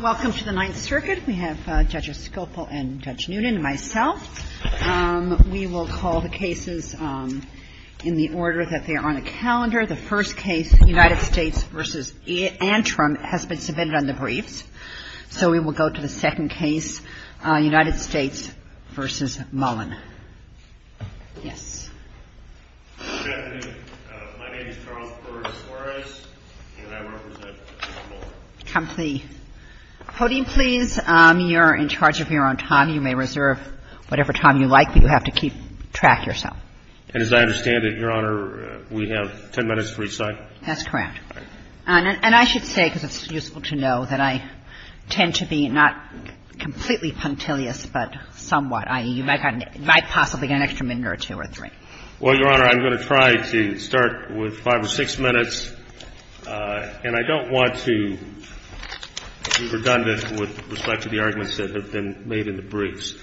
Welcome to the Ninth Circuit. We have Judges Schoepfel and Judge Noonan and myself. We will call the cases in the order that they are on the calendar. The first case, United States v. Antrim, has been submitted on the briefs. So we will go to the second case, United States v. Mullin. Yes. My name is Charles Burris Juarez, and I represent Mullin. Come to the podium, please. You're in charge of your own time. You may reserve whatever time you like, but you have to keep track yourself. And as I understand it, Your Honor, we have 10 minutes for each side? That's correct. And I should say, because it's useful to know, that I tend to be not completely punctilious, but somewhat, i.e., you might possibly get an extra minute or two or three. Well, Your Honor, I'm going to try to start with 5 or 6 minutes, and I don't want to be redundant with respect to the arguments that have been made in the briefs.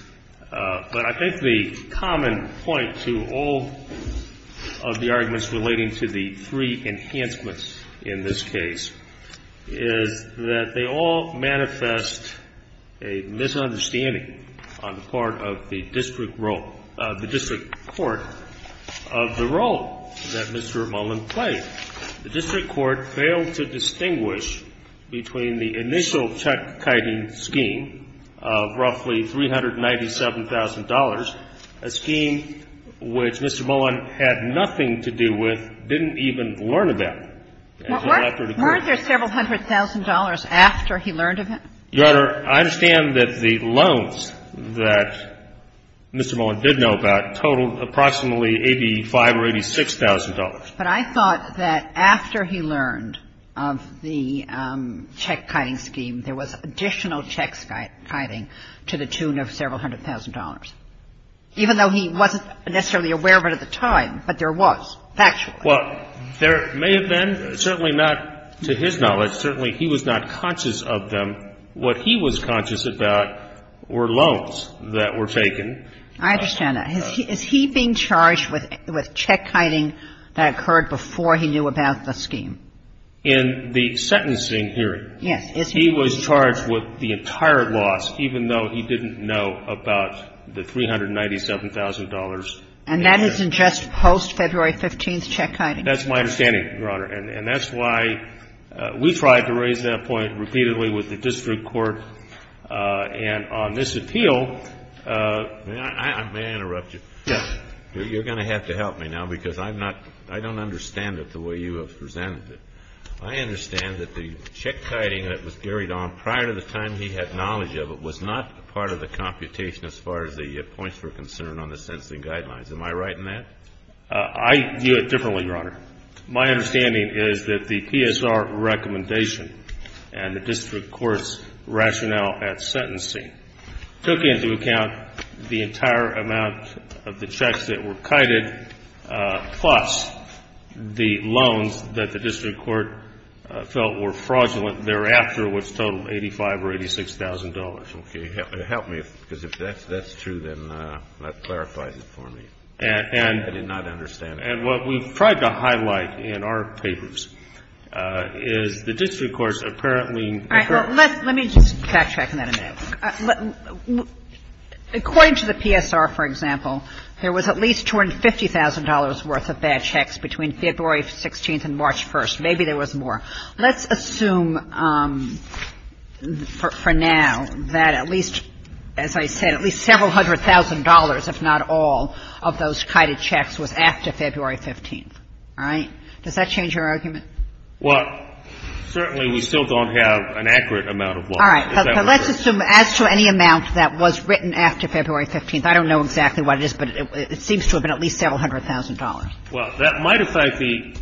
But I think the common point to all of the arguments relating to the three enhancements in this case is that they all manifest a misunderstanding on the part of the district court of the role that Mr. Mullin played. The district court failed to distinguish between the initial tech-kiting scheme of roughly $397,000, a scheme which Mr. Mullin had nothing to do with, didn't even learn about. And so after it occurred to him... Weren't there several hundred thousand dollars after he learned of it? Your Honor, I understand that the loans that Mr. Mullin did know about totaled approximately $85,000 or $86,000. But I thought that after he learned of the tech-kiting scheme, there was additional tech-kiting to the tune of several hundred thousand dollars, even though he wasn't necessarily aware of it at the time, but there was, factually. Well, there may have been. Certainly not to his knowledge. Certainly he was not conscious of them. What he was conscious about were loans that were taken. I understand that. Is he being charged with tech-kiting that occurred before he knew about the scheme? In the sentencing hearing... Yes. ...he was charged with the entire loss, even though he didn't know about the $397,000 And that isn't just post-February 15th tech-kiting? That's my understanding, Your Honor. And that's why we tried to raise that point repeatedly with the district court. And on this appeal, may I interrupt you? Yes. You're going to have to help me now because I'm not – I don't understand it the way you have presented it. I understand that the tech-kiting that was carried on prior to the time he had knowledge of it was not part of the computation as far as the points were concerned on the sentencing guidelines. Am I right in that? I view it differently, Your Honor. My understanding is that the PSR recommendation and the district court's rationale at sentencing took into account the entire amount of the checks that were kited, plus the loans that the district court felt were fraudulent thereafter, which totaled $85,000 or $86,000. Okay. Help me, because if that's true, then that clarifies it for me. And... I did not understand. And what we tried to highlight in our papers is the district court's apparently All right. Let me just backtrack on that a minute. According to the PSR, for example, there was at least $250,000 worth of bad checks between February 16th and March 1st. Maybe there was more. Let's assume for now that at least, as I said, at least several hundred thousand dollars, if not all, of those kited checks was after February 15th. All right? Does that change your argument? Well, certainly we still don't have an accurate amount of money. All right. Let's assume as to any amount that was written after February 15th, I don't know exactly what it is, but it seems to have been at least several hundred thousand dollars. Well, that might affect the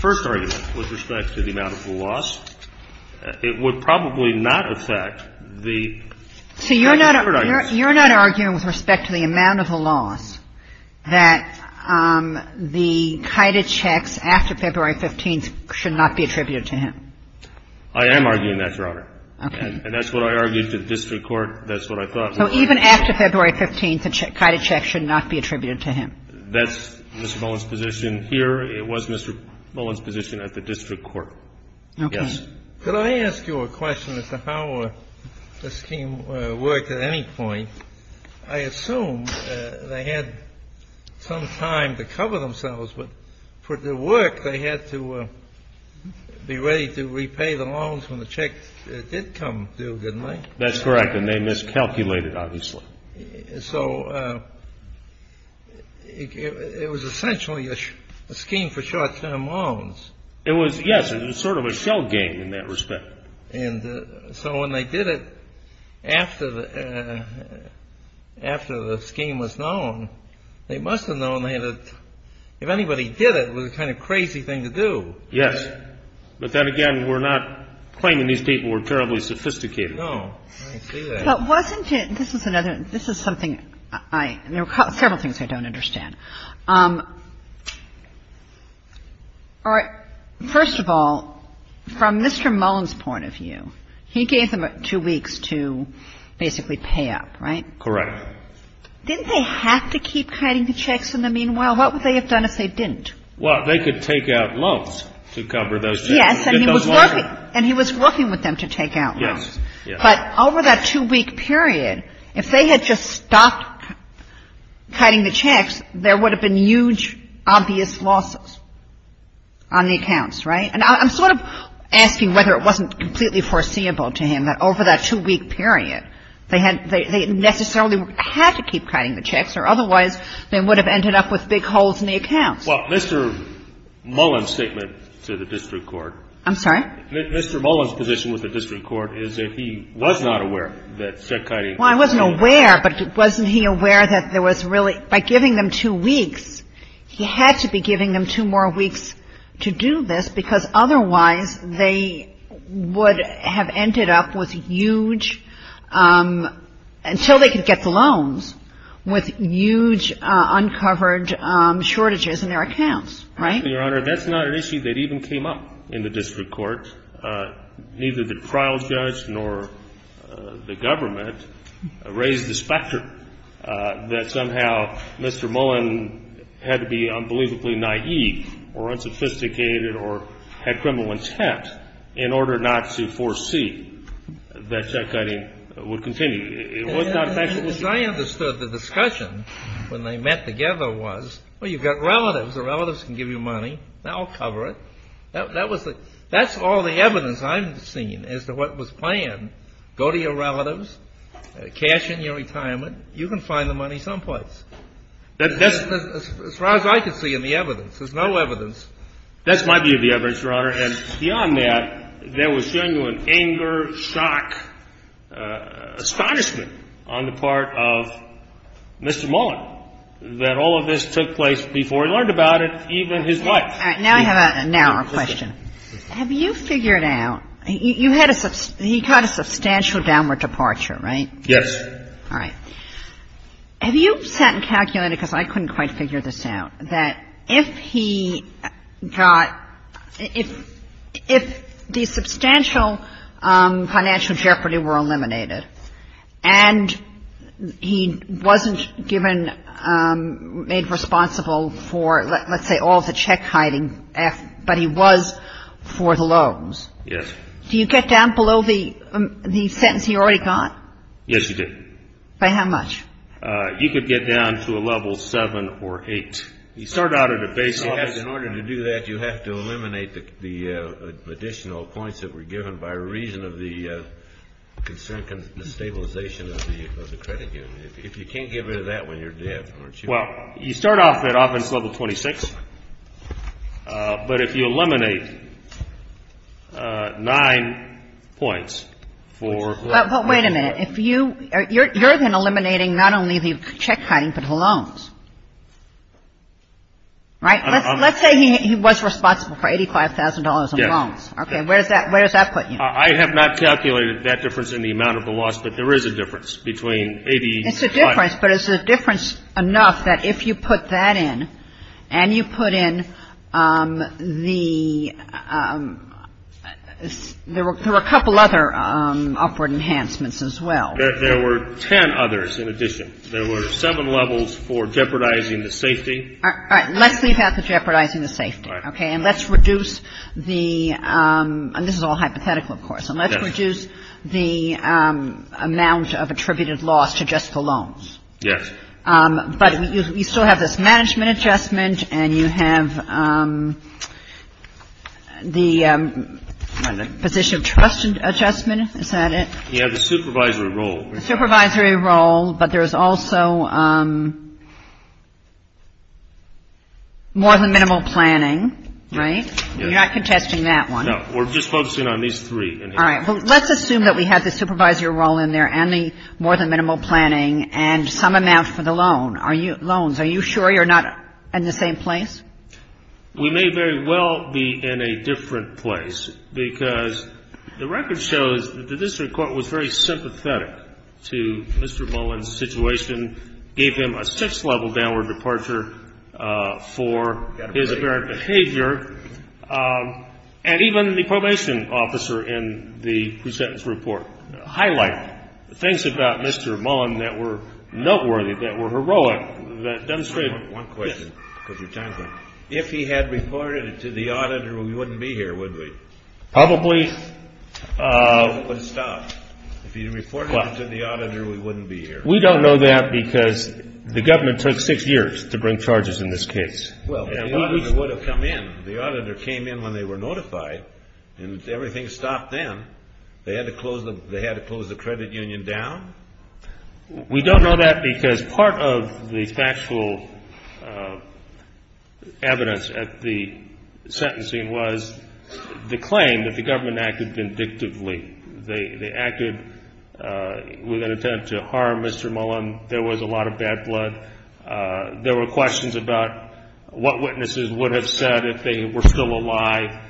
first argument with respect to the amount of the loss. It would probably not affect the... So you're not arguing with respect to the amount of the loss that the kited checks after February 15th should not be attributed to him? I am arguing that, Your Honor. And that's what I argued to the district court. That's what I thought. So even after February 15th, the kited checks should not be attributed to him? That's Mr. Mullin's position here. It was Mr. Mullin's position at the district court. Okay. Yes. Could I ask you a question as to how the scheme worked at any point? I assume they had some time to cover themselves, but for the work they had to be ready to repay the loans when the checks did come due, didn't they? That's correct. And they miscalculated, obviously. So it was essentially a scheme for short-term loans. It was, yes. It was sort of a shell game in that respect. And so when they did it after the scheme was known, they must have known they had to – if anybody did it, it was a kind of crazy thing to do. Yes. But then again, we're not claiming these people were terribly sophisticated. No. I see that. But wasn't it – this is another – this is something I – there are several things I don't understand. First of all, from Mr. Mullin's point of view, he gave them two weeks to basically pay up, right? Correct. Didn't they have to keep kiting the checks in the meanwhile? What would they have done if they didn't? Well, they could take out loans to cover those – Yes, and he was working with them to take out loans. Yes. But over that two-week period, if they had just stopped kiting the checks, there would have been huge, obvious losses on the accounts, right? And I'm sort of asking whether it wasn't completely foreseeable to him that over that two-week period, they necessarily had to keep kiting the checks, or otherwise they would have ended up with big holes in the accounts. Well, Mr. Mullin's statement to the district court – I'm sorry? Mr. Mullin's position with the district court is that he was not aware that said kiting – Well, I wasn't aware, but wasn't he aware that there was really – by giving them two weeks, he had to be giving them two more weeks to do this, because otherwise they would have ended up with huge – until they could get the loans, with huge uncovered shortages in their accounts, right? Actually, Your Honor, that's not an issue that even came up in the district court. Neither the trial judge nor the government raised the spectrum that somehow Mr. Mullin had to be unbelievably naïve or unsophisticated or had criminal intent in order not to foresee that that kiting would continue. I understood the discussion when they met together was, well, you've got relatives. The relatives can give you money. They'll cover it. That's all the evidence I've seen as to what was planned. Go to your relatives, cash in your retirement. You can find the money someplace. As far as I could see in the evidence. That's my view of the evidence, Your Honor. And beyond that, there was genuine anger, shock, astonishment on the part of Mr. Mullin, that all of this took place before he learned about it, even his wife. All right. Now I have a narrower question. Have you figured out – you had a – he got a substantial downward departure, right? Yes. All right. Have you sat and calculated, because I couldn't quite figure this out, that if he got – if the substantial financial jeopardy were eliminated and he wasn't given – made responsible for, let's say, all the check-hiding, but he was for the loans. Yes. Do you get down below the sentence he already got? Yes, you do. By how much? You could get down to a level 7 or 8. You start out at a basic – In order to do that, you have to eliminate the additional points that were given by reason of the concern and the stabilization of the credit union. If you can't get rid of that when you're dead, aren't you – Well, you start off at office level 26, but if you eliminate 9 points for – But wait a minute. If you – you're then eliminating not only the check-hiding, but the loans, right? Let's say he was responsible for $85,000 in loans. Yes. Okay. Where does that put you? I have not calculated that difference in the amount of the loss, but there is a difference between 85 – It's a difference, but it's a difference enough that if you put that in and you put in the – There were a couple other upward enhancements as well. There were 10 others in addition. There were 7 levels for jeopardizing the safety. All right. Let's leave out the jeopardizing the safety. All right. Okay. And let's reduce the – and this is all hypothetical, of course. Yes. And let's reduce the amount of attributed loss to just the loans. Yes. But you still have this management adjustment and you have the position of trust adjustment. Is that it? You have the supervisory role. Supervisory role, but there's also more than minimal planning, right? You're not contesting that one. No. We're just focusing on these three. All right. Well, let's assume that we have the supervisory role in there and the more than minimal planning and some amount for the loan. Loans, are you sure you're not in the same place? We may very well be in a different place because the record shows that the district court was very sympathetic to Mr. Mullin's situation, gave him a six-level downward departure for his apparent behavior, and even the probation officer in the presentence report highlighted things about Mr. Mullin that were noteworthy, that were heroic, that demonstrated. One question, because your time's up. If he had reported it to the auditor, we wouldn't be here, would we? Probably. If he had reported it to the auditor, we wouldn't be here. We don't know that because the government took six years to bring charges in this case. Well, the auditor would have come in. The auditor came in when they were notified, and everything stopped then. They had to close the credit union down? We don't know that because part of the factual evidence at the sentencing was the claim that the government acted vindictively. They acted with an attempt to harm Mr. Mullin. There was a lot of bad blood. There were questions about what witnesses would have said if they were still alive.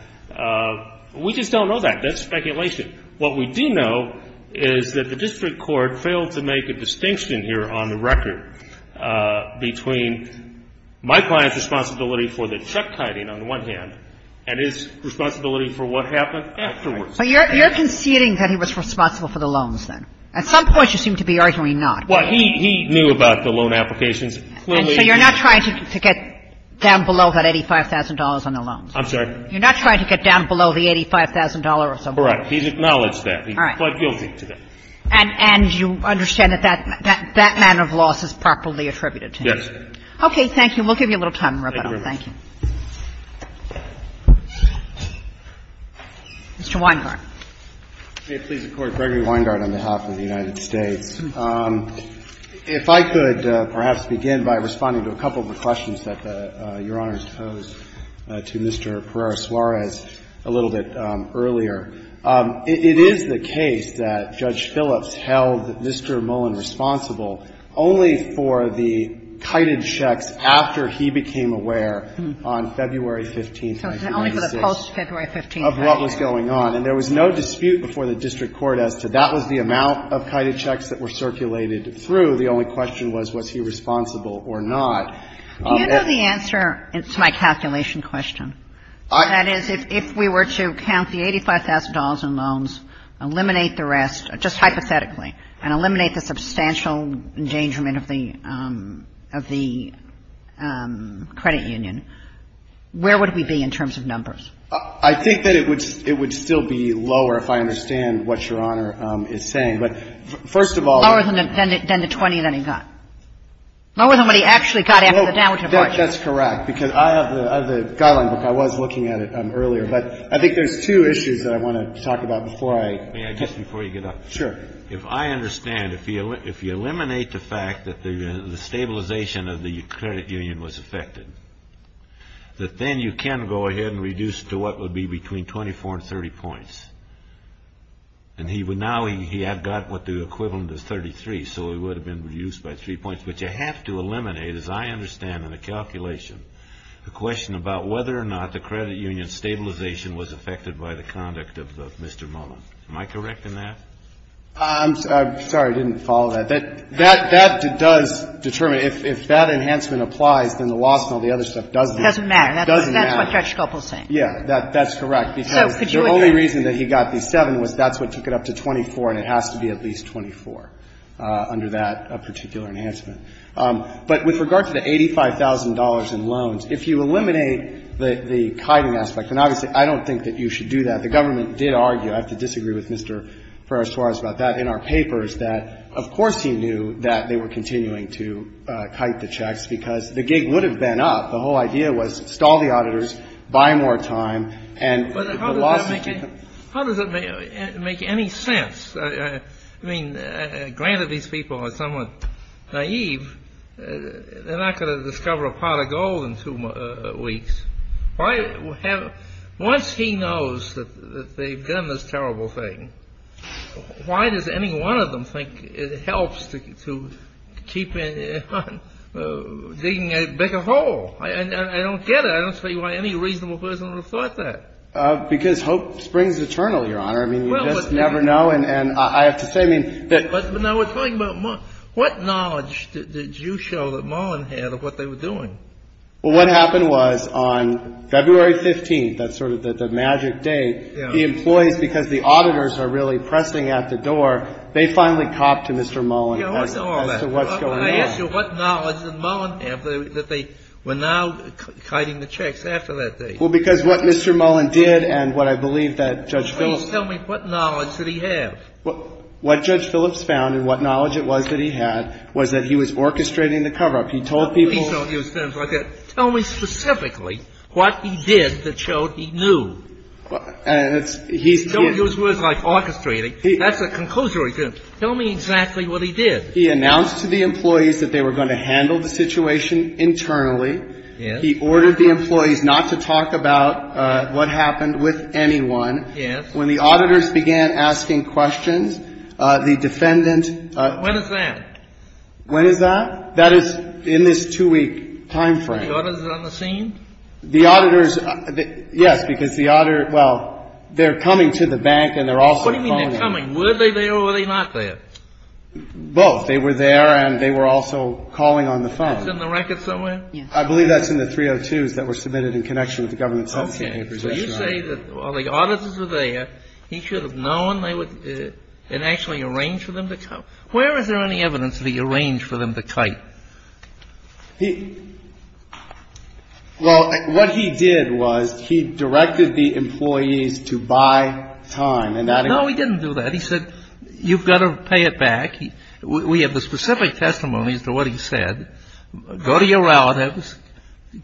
We just don't know that. That's speculation. What we do know is that the district court failed to make a distinction here on the record between my client's responsibility for the check-kiting, on the one hand, and his responsibility for what happened afterwards. But you're conceding that he was responsible for the loans, then? At some point, you seem to be arguing not. Well, he knew about the loan applications. And so you're not trying to get down below that $85,000 on the loans? I'm sorry? You're not trying to get down below the $85,000 or something? Correct. He's acknowledged that. All right. He pled guilty to that. And you understand that that manner of loss is properly attributed to him? Yes. Okay. We'll give you a little time to wrap it up. Thank you. Mr. Weingart. May it please the Court. Gregory Weingart on behalf of the United States. If I could perhaps begin by responding to a couple of the questions that Your Honor posed to Mr. Pereira-Suarez a little bit earlier. It is the case that Judge Phillips held Mr. Mullen responsible only for the kited checks after he became aware on February 15th, 1996. So it's only for the post-February 15th. Of what was going on. And there was no dispute before the district court as to that was the amount of kited checks that were circulated through. The only question was, was he responsible or not. Do you know the answer to my calculation question? That is, if we were to count the $85,000 in loans, eliminate the rest, just hypothetically, and eliminate the substantial endangerment of the credit union, where would we be in terms of numbers? I think that it would still be lower if I understand what Your Honor is saying. But first of all. Lower than the $20,000 that he got. Lower than what he actually got after the downturn. That's correct. Because I have the guideline book. I was looking at it earlier. But I think there's two issues that I want to talk about before I. May I just, before you get up? Sure. If I understand, if you eliminate the fact that the stabilization of the credit union was affected, that then you can go ahead and reduce it to what would be between 24 and 30 points. And now he had got what the equivalent is 33, so it would have been reduced by three points. But you have to eliminate, as I understand in the calculation, the question about whether or not the credit union stabilization was affected by the conduct of Mr. Mullen. Am I correct in that? I'm sorry. I didn't follow that. That does determine. If that enhancement applies, then the loss and all the other stuff doesn't. It doesn't matter. It doesn't matter. That's what Judge Scalpel is saying. Yeah. That's correct. Because the only reason that he got the 7 was that's what took it up to 24, and it has to be at least 24 under that particular enhancement. But with regard to the $85,000 in loans, if you eliminate the kiting aspect, and obviously I don't think that you should do that. The government did argue, I have to disagree with Mr. Ferraro-Torres about that in our papers, that of course he knew that they were continuing to kite the checks because the gig would have been up. The whole idea was stall the auditors, buy more time, and the loss would be. But how does that make any sense? I mean, granted these people are somewhat naive. They're not going to discover a pot of gold in two weeks. Once he knows that they've done this terrible thing, why does any one of them think it helps to keep digging a bigger hole? I don't get it. I don't see why any reasonable person would have thought that. Because hope springs eternal, Your Honor. I mean, you just never know, and I have to say, I mean. But now we're talking about what knowledge did you show that Mullen had of what they were doing? Well, what happened was on February 15th, that's sort of the magic date, the employees, because the auditors are really pressing at the door, they finally copped to Mr. Mullen. Yeah, what's all that? That's what's going on. I asked you what knowledge did Mullen have that they were now kiting the checks after that date? Well, because what Mr. Mullen did and what I believe that Judge Phillips Please tell me what knowledge did he have? What Judge Phillips found and what knowledge it was that he had was that he was orchestrating the cover-up. He told people Please don't use terms like that. Tell me specifically what he did that showed he knew. Please don't use words like orchestrating. That's a conclusory term. Tell me exactly what he did. He announced to the employees that they were going to handle the situation internally. Yes. He ordered the employees not to talk about what happened with anyone. Yes. When the auditors began asking questions, the defendant When is that? When is that? That is in this two-week timeframe. The auditors are on the scene? The auditors Yes, because the auditor Well, they're coming to the bank and they're also calling What do you mean they're coming? Were they there or were they not there? Both. They were there and they were also calling on the phone. It's in the record somewhere? Yes. I believe that's in the 302s that were submitted in connection with the government sentencing papers. Okay. So you say that the auditors were there. He should have known they were And actually arranged for them to come Where is there any evidence that he arranged for them to kite? Well, what he did was he directed the employees to buy time and that No, he didn't do that. He said you've got to pay it back. We have the specific testimonies to what he said. Go to your relatives.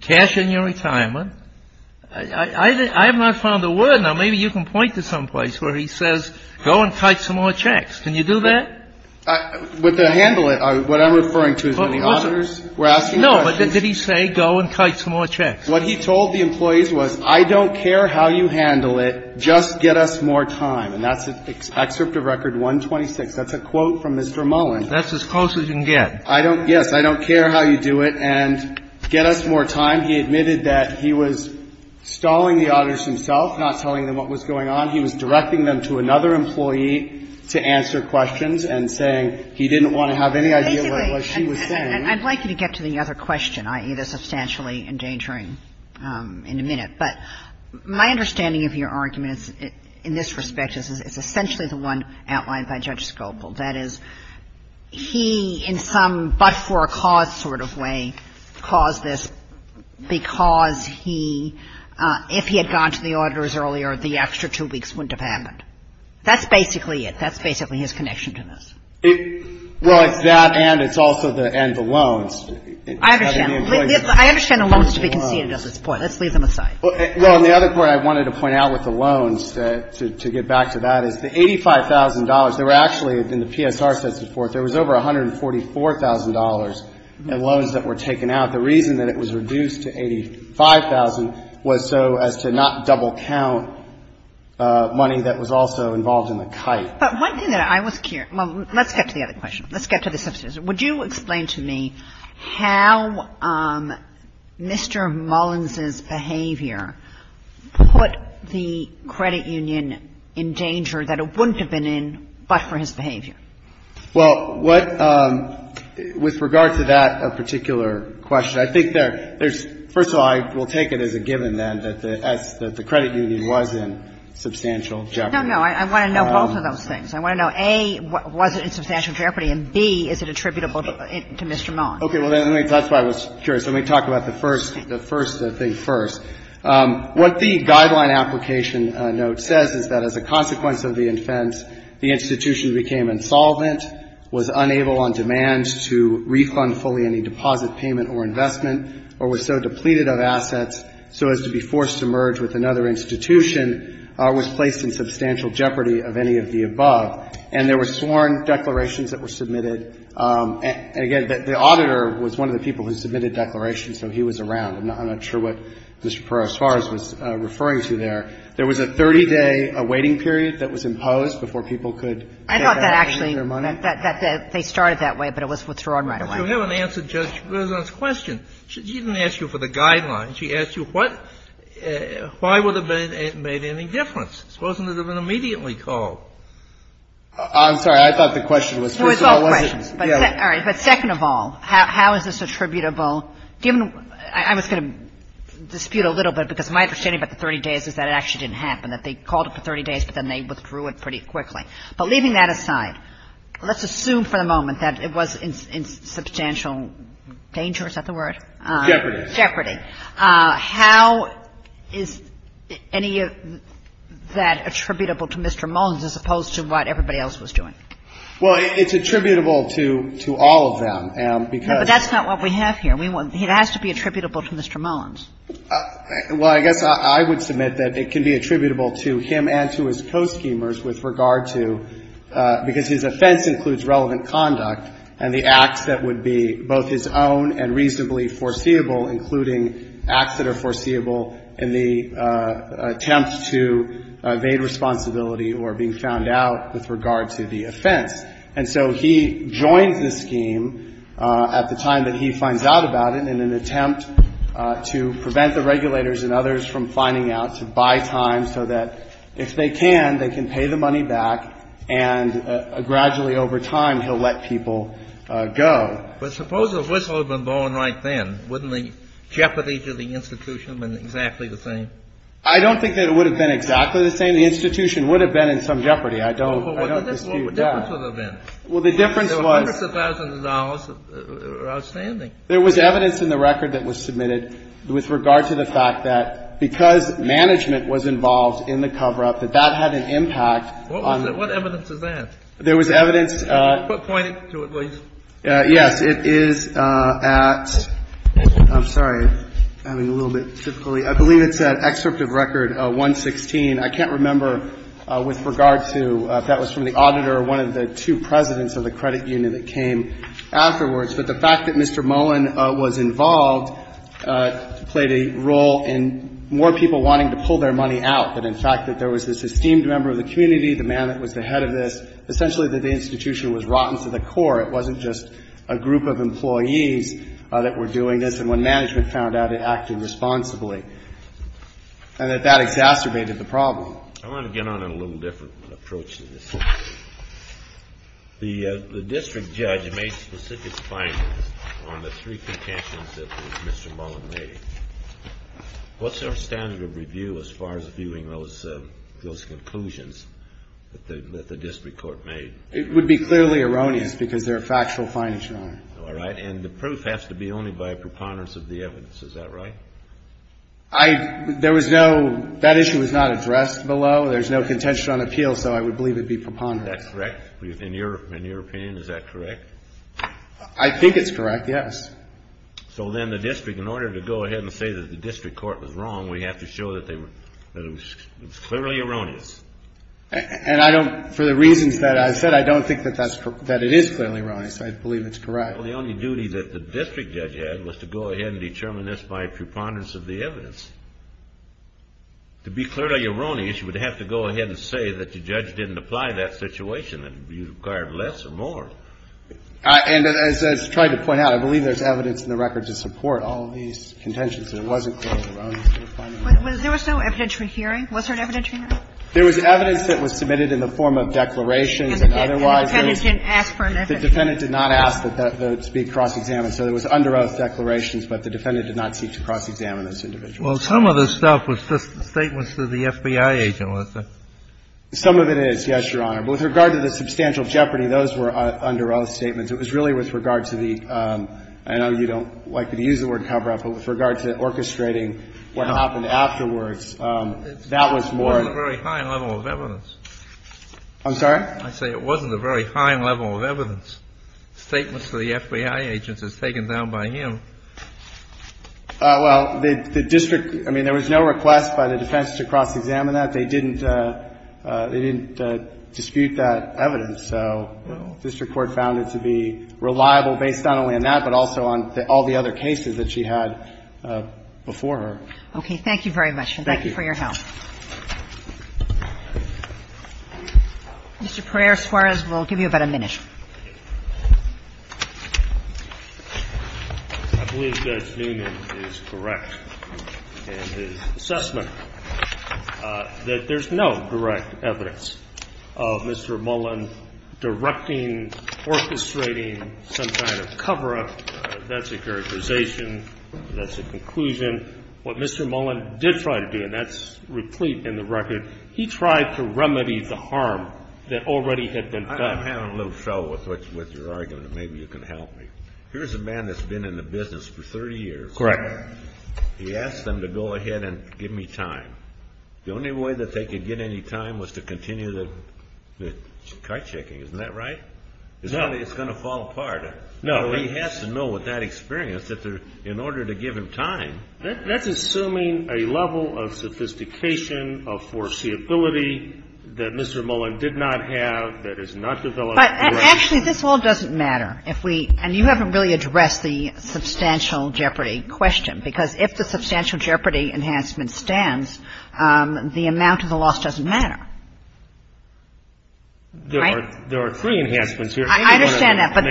Cash in your retirement. I have not found a word. Now, maybe you can point to someplace where he says go and kite some more checks. Can you do that? With the handle it, what I'm referring to is when the auditors were asking questions No, but did he say go and kite some more checks? What he told the employees was I don't care how you handle it. Just get us more time. And that's an excerpt of Record 126. That's a quote from Mr. Mullen. That's as close as you can get. Yes. I don't care how you do it. And get us more time. He admitted that he was stalling the auditors himself, not telling them what was going on. He was directing them to another employee to answer questions and saying he didn't want to have any idea what she was saying. And I'd like you to get to the other question, i.e., the substantially endangering in a minute. But my understanding of your argument in this respect is it's essentially the one outlined by Judge Scalpel. That is, he in some but-for-a-cause sort of way caused this because he, if he had gone to the auditors earlier, the extra two weeks wouldn't have happened. That's basically it. That's basically his connection to this. Well, it's that and it's also the end of loans. I understand. I understand the loans to be conceded at this point. Let's leave them aside. Well, and the other point I wanted to point out with the loans, to get back to that, is the $85,000, there were actually, in the PSR sets before, there was over $144,000 in loans that were taken out. The reason that it was reduced to $85,000 was so as to not double count money that was also involved in the kite. But one thing that I was curious – well, let's get to the other question. Let's get to the substantial. Would you explain to me how Mr. Mullins's behavior put the credit union in danger that it wouldn't have been in but for his behavior? Well, what – with regard to that particular question, I think there's – first of all, I will take it as a given, then, that the credit union was in substantial jeopardy. No, no. I want to know both of those things. I want to know, A, was it in substantial jeopardy, and, B, is it attributable to Mr. Mullins? Okay. Well, let me – that's why I was curious. Let me talk about the first thing first. What the guideline application note says is that as a consequence of the offense, the institution became insolvent, was unable on demand to refund fully any deposit payment or investment, or was so depleted of assets so as to be forced to merge with another institution, was placed in substantial jeopardy of any of the above. And there were sworn declarations that were submitted. And, again, the auditor was one of the people who submitted declarations, so he was around. I'm not sure what Mr. Perez-Suarez was referring to there. There was a 30-day awaiting period that was imposed before people could get their money. I thought that actually they started that way, but it was withdrawn right away. You haven't answered Judge Sotomayor's question. She didn't ask you for the guidelines. She asked you what – why would it have made any difference? Suppose it would have been immediately called. I'm sorry. I thought the question was, first of all, was it – No, it's all questions. All right. But second of all, how is this attributable? Given – I was going to dispute a little bit, because my understanding about the 30 days is that it actually didn't happen, that they called it for 30 days, but then they withdrew it pretty quickly. But leaving that aside, let's assume for the moment that it was in substantial danger – is that the word? Jeopardy. Jeopardy. How is any of that attributable to Mr. Mullins as opposed to what everybody else was doing? Well, it's attributable to all of them, because – No, but that's not what we have here. It has to be attributable to Mr. Mullins. Well, I guess I would submit that it can be attributable to him and to his co-schemers with regard to – because his offense includes relevant conduct and the acts that would be both his own and reasonably foreseeable, including acts that are foreseeable in the attempt to evade responsibility or being found out with regard to the offense. And so he joins the scheme at the time that he finds out about it in an attempt to prevent the regulators and others from finding out, to buy time so that if they can, they can pay the money back, and gradually over time he'll let people go. But suppose the whistle had been blown right then. Wouldn't the jeopardy to the institution have been exactly the same? I don't think that it would have been exactly the same. The institution would have been in some jeopardy. I don't dispute that. The difference would have been. Well, the difference was. There were hundreds of thousands of dollars that were outstanding. There was evidence in the record that was submitted with regard to the fact that because management was involved in the cover-up, that that had an impact on. What evidence is that? There was evidence. Point it to it, please. Yes. It is at – I'm sorry. I'm having a little bit of difficulty. I believe it's at excerpt of record 116. I can't remember with regard to if that was from the auditor or one of the two presidents of the credit union that came afterwards. But the fact that Mr. Mullen was involved played a role in more people wanting to pull their money out. But in fact, that there was this esteemed member of the community, the man that was the head of this, essentially that the institution was rotten to the core. It wasn't just a group of employees that were doing this. And when management found out, it acted responsibly. And that that exacerbated the problem. I want to get on a little different approach to this. The district judge made specific findings on the three contentions that Mr. Mullen made. What's our standard of review as far as viewing those conclusions that the district court made? It would be clearly erroneous because there are factual findings, Your Honor. All right. And the proof has to be only by a preponderance of the evidence. Is that right? I — there was no — that issue was not addressed below. There's no contention on appeal, so I would believe it'd be preponderance. Is that correct? In your opinion, is that correct? I think it's correct, yes. So then the district, in order to go ahead and say that the district court was wrong, we have to show that they were — that it was clearly erroneous. And I don't — for the reasons that I said, I don't think that that's — that it is clearly erroneous. I believe it's correct. Well, the only duty that the district judge had was to go ahead and determine this by preponderance of the evidence. To be clearly erroneous, you would have to go ahead and say that the judge didn't apply that situation. It would be required less or more. And as I tried to point out, I believe there's evidence in the record to support all of these contentions. There wasn't clearly erroneous. There was no evidentiary hearing. Was there an evidentiary hearing? There was evidence that was submitted in the form of declarations and otherwise. And the defendant didn't ask for an evidence? The defendant did not ask that those be cross-examined. So there was under-oath declarations, but the defendant did not seek to cross-examine this individual. Well, some of this stuff was just statements to the FBI agent, wasn't it? Some of it is, yes, Your Honor. But with regard to the substantial jeopardy, those were under-oath statements. It was really with regard to the — I know you don't like to use the word cover-up, but with regard to orchestrating what happened afterwards, that was more — It wasn't a very high level of evidence. I'm sorry? I say it wasn't a very high level of evidence, statements to the FBI agents as taken down by him. Well, the district — I mean, there was no request by the defense to cross-examine that. They didn't — they didn't dispute that evidence. So the district court found it to be reliable based not only on that, but also on all the other cases that she had before her. Okay. Thank you very much. Thank you. And thank you for your help. Mr. Pereira-Suarez, we'll give you about a minute. I believe Judge Newman is correct in his assessment that there's no direct evidence of Mr. Mullen directing, orchestrating some kind of cover-up. That's a characterization. That's a conclusion. And what Mr. Mullen did try to do, and that's replete in the record, he tried to remedy the harm that already had been done. I'm having a little trouble with your argument. Maybe you can help me. Here's a man that's been in the business for 30 years. Correct. He asked them to go ahead and give me time. The only way that they could get any time was to continue the car-checking. Isn't that right? No. It's going to fall apart. No. He has to know with that experience that in order to give him time. That's assuming a level of sophistication, of foreseeability that Mr. Mullen did not have, that is not developed. Actually, this all doesn't matter. And you haven't really addressed the substantial jeopardy question, because if the substantial jeopardy enhancement stands, the amount of the loss doesn't matter. There are three enhancements here. I understand that. But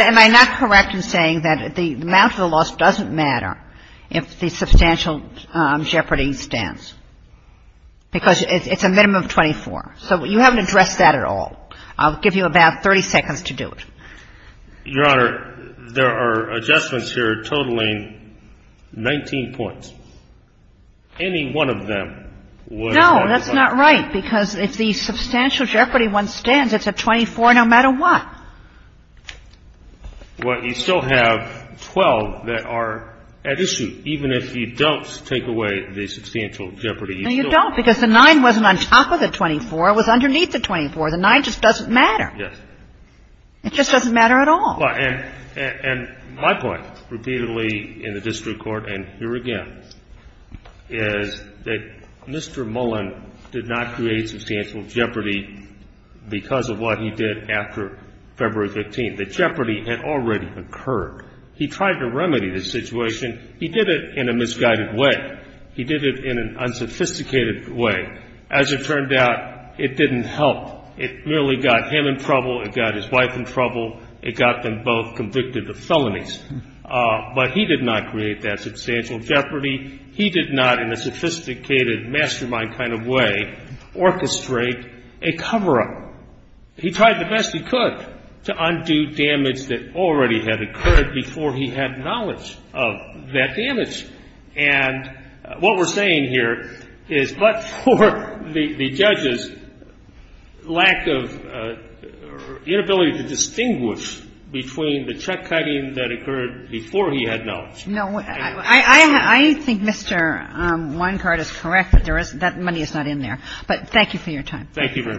am I not correct in saying that the amount of the loss doesn't matter if the substantial jeopardy stands? Because it's a minimum of 24. So you haven't addressed that at all. I'll give you about 30 seconds to do it. Your Honor, there are adjustments here totaling 19 points. Any one of them would qualify. No, that's not right, because if the substantial jeopardy one stands, it's a 24 no matter what. Well, you still have 12 that are at issue, even if you don't take away the substantial jeopardy. No, you don't, because the 9 wasn't on top of the 24. It was underneath the 24. The 9 just doesn't matter. Yes. It just doesn't matter at all. And my point, repeatedly in the district court and here again, is that Mr. Mullen did not create substantial jeopardy because of what he did after February 15th. The jeopardy had already occurred. He tried to remedy the situation. He did it in a misguided way. He did it in an unsophisticated way. As it turned out, it didn't help. It merely got him in trouble. It got his wife in trouble. It got them both convicted of felonies. But he did not create that substantial jeopardy. He did not, in a sophisticated mastermind kind of way, orchestrate a cover-up. He tried the best he could to undo damage that already had occurred before he had knowledge of that damage. And what we're saying here is but for the judge's lack of inability to distinguish between the check cutting that occurred before he had knowledge. I think Mr. Weinkart is correct that that money is not in there. But thank you for your time. Thank you very much.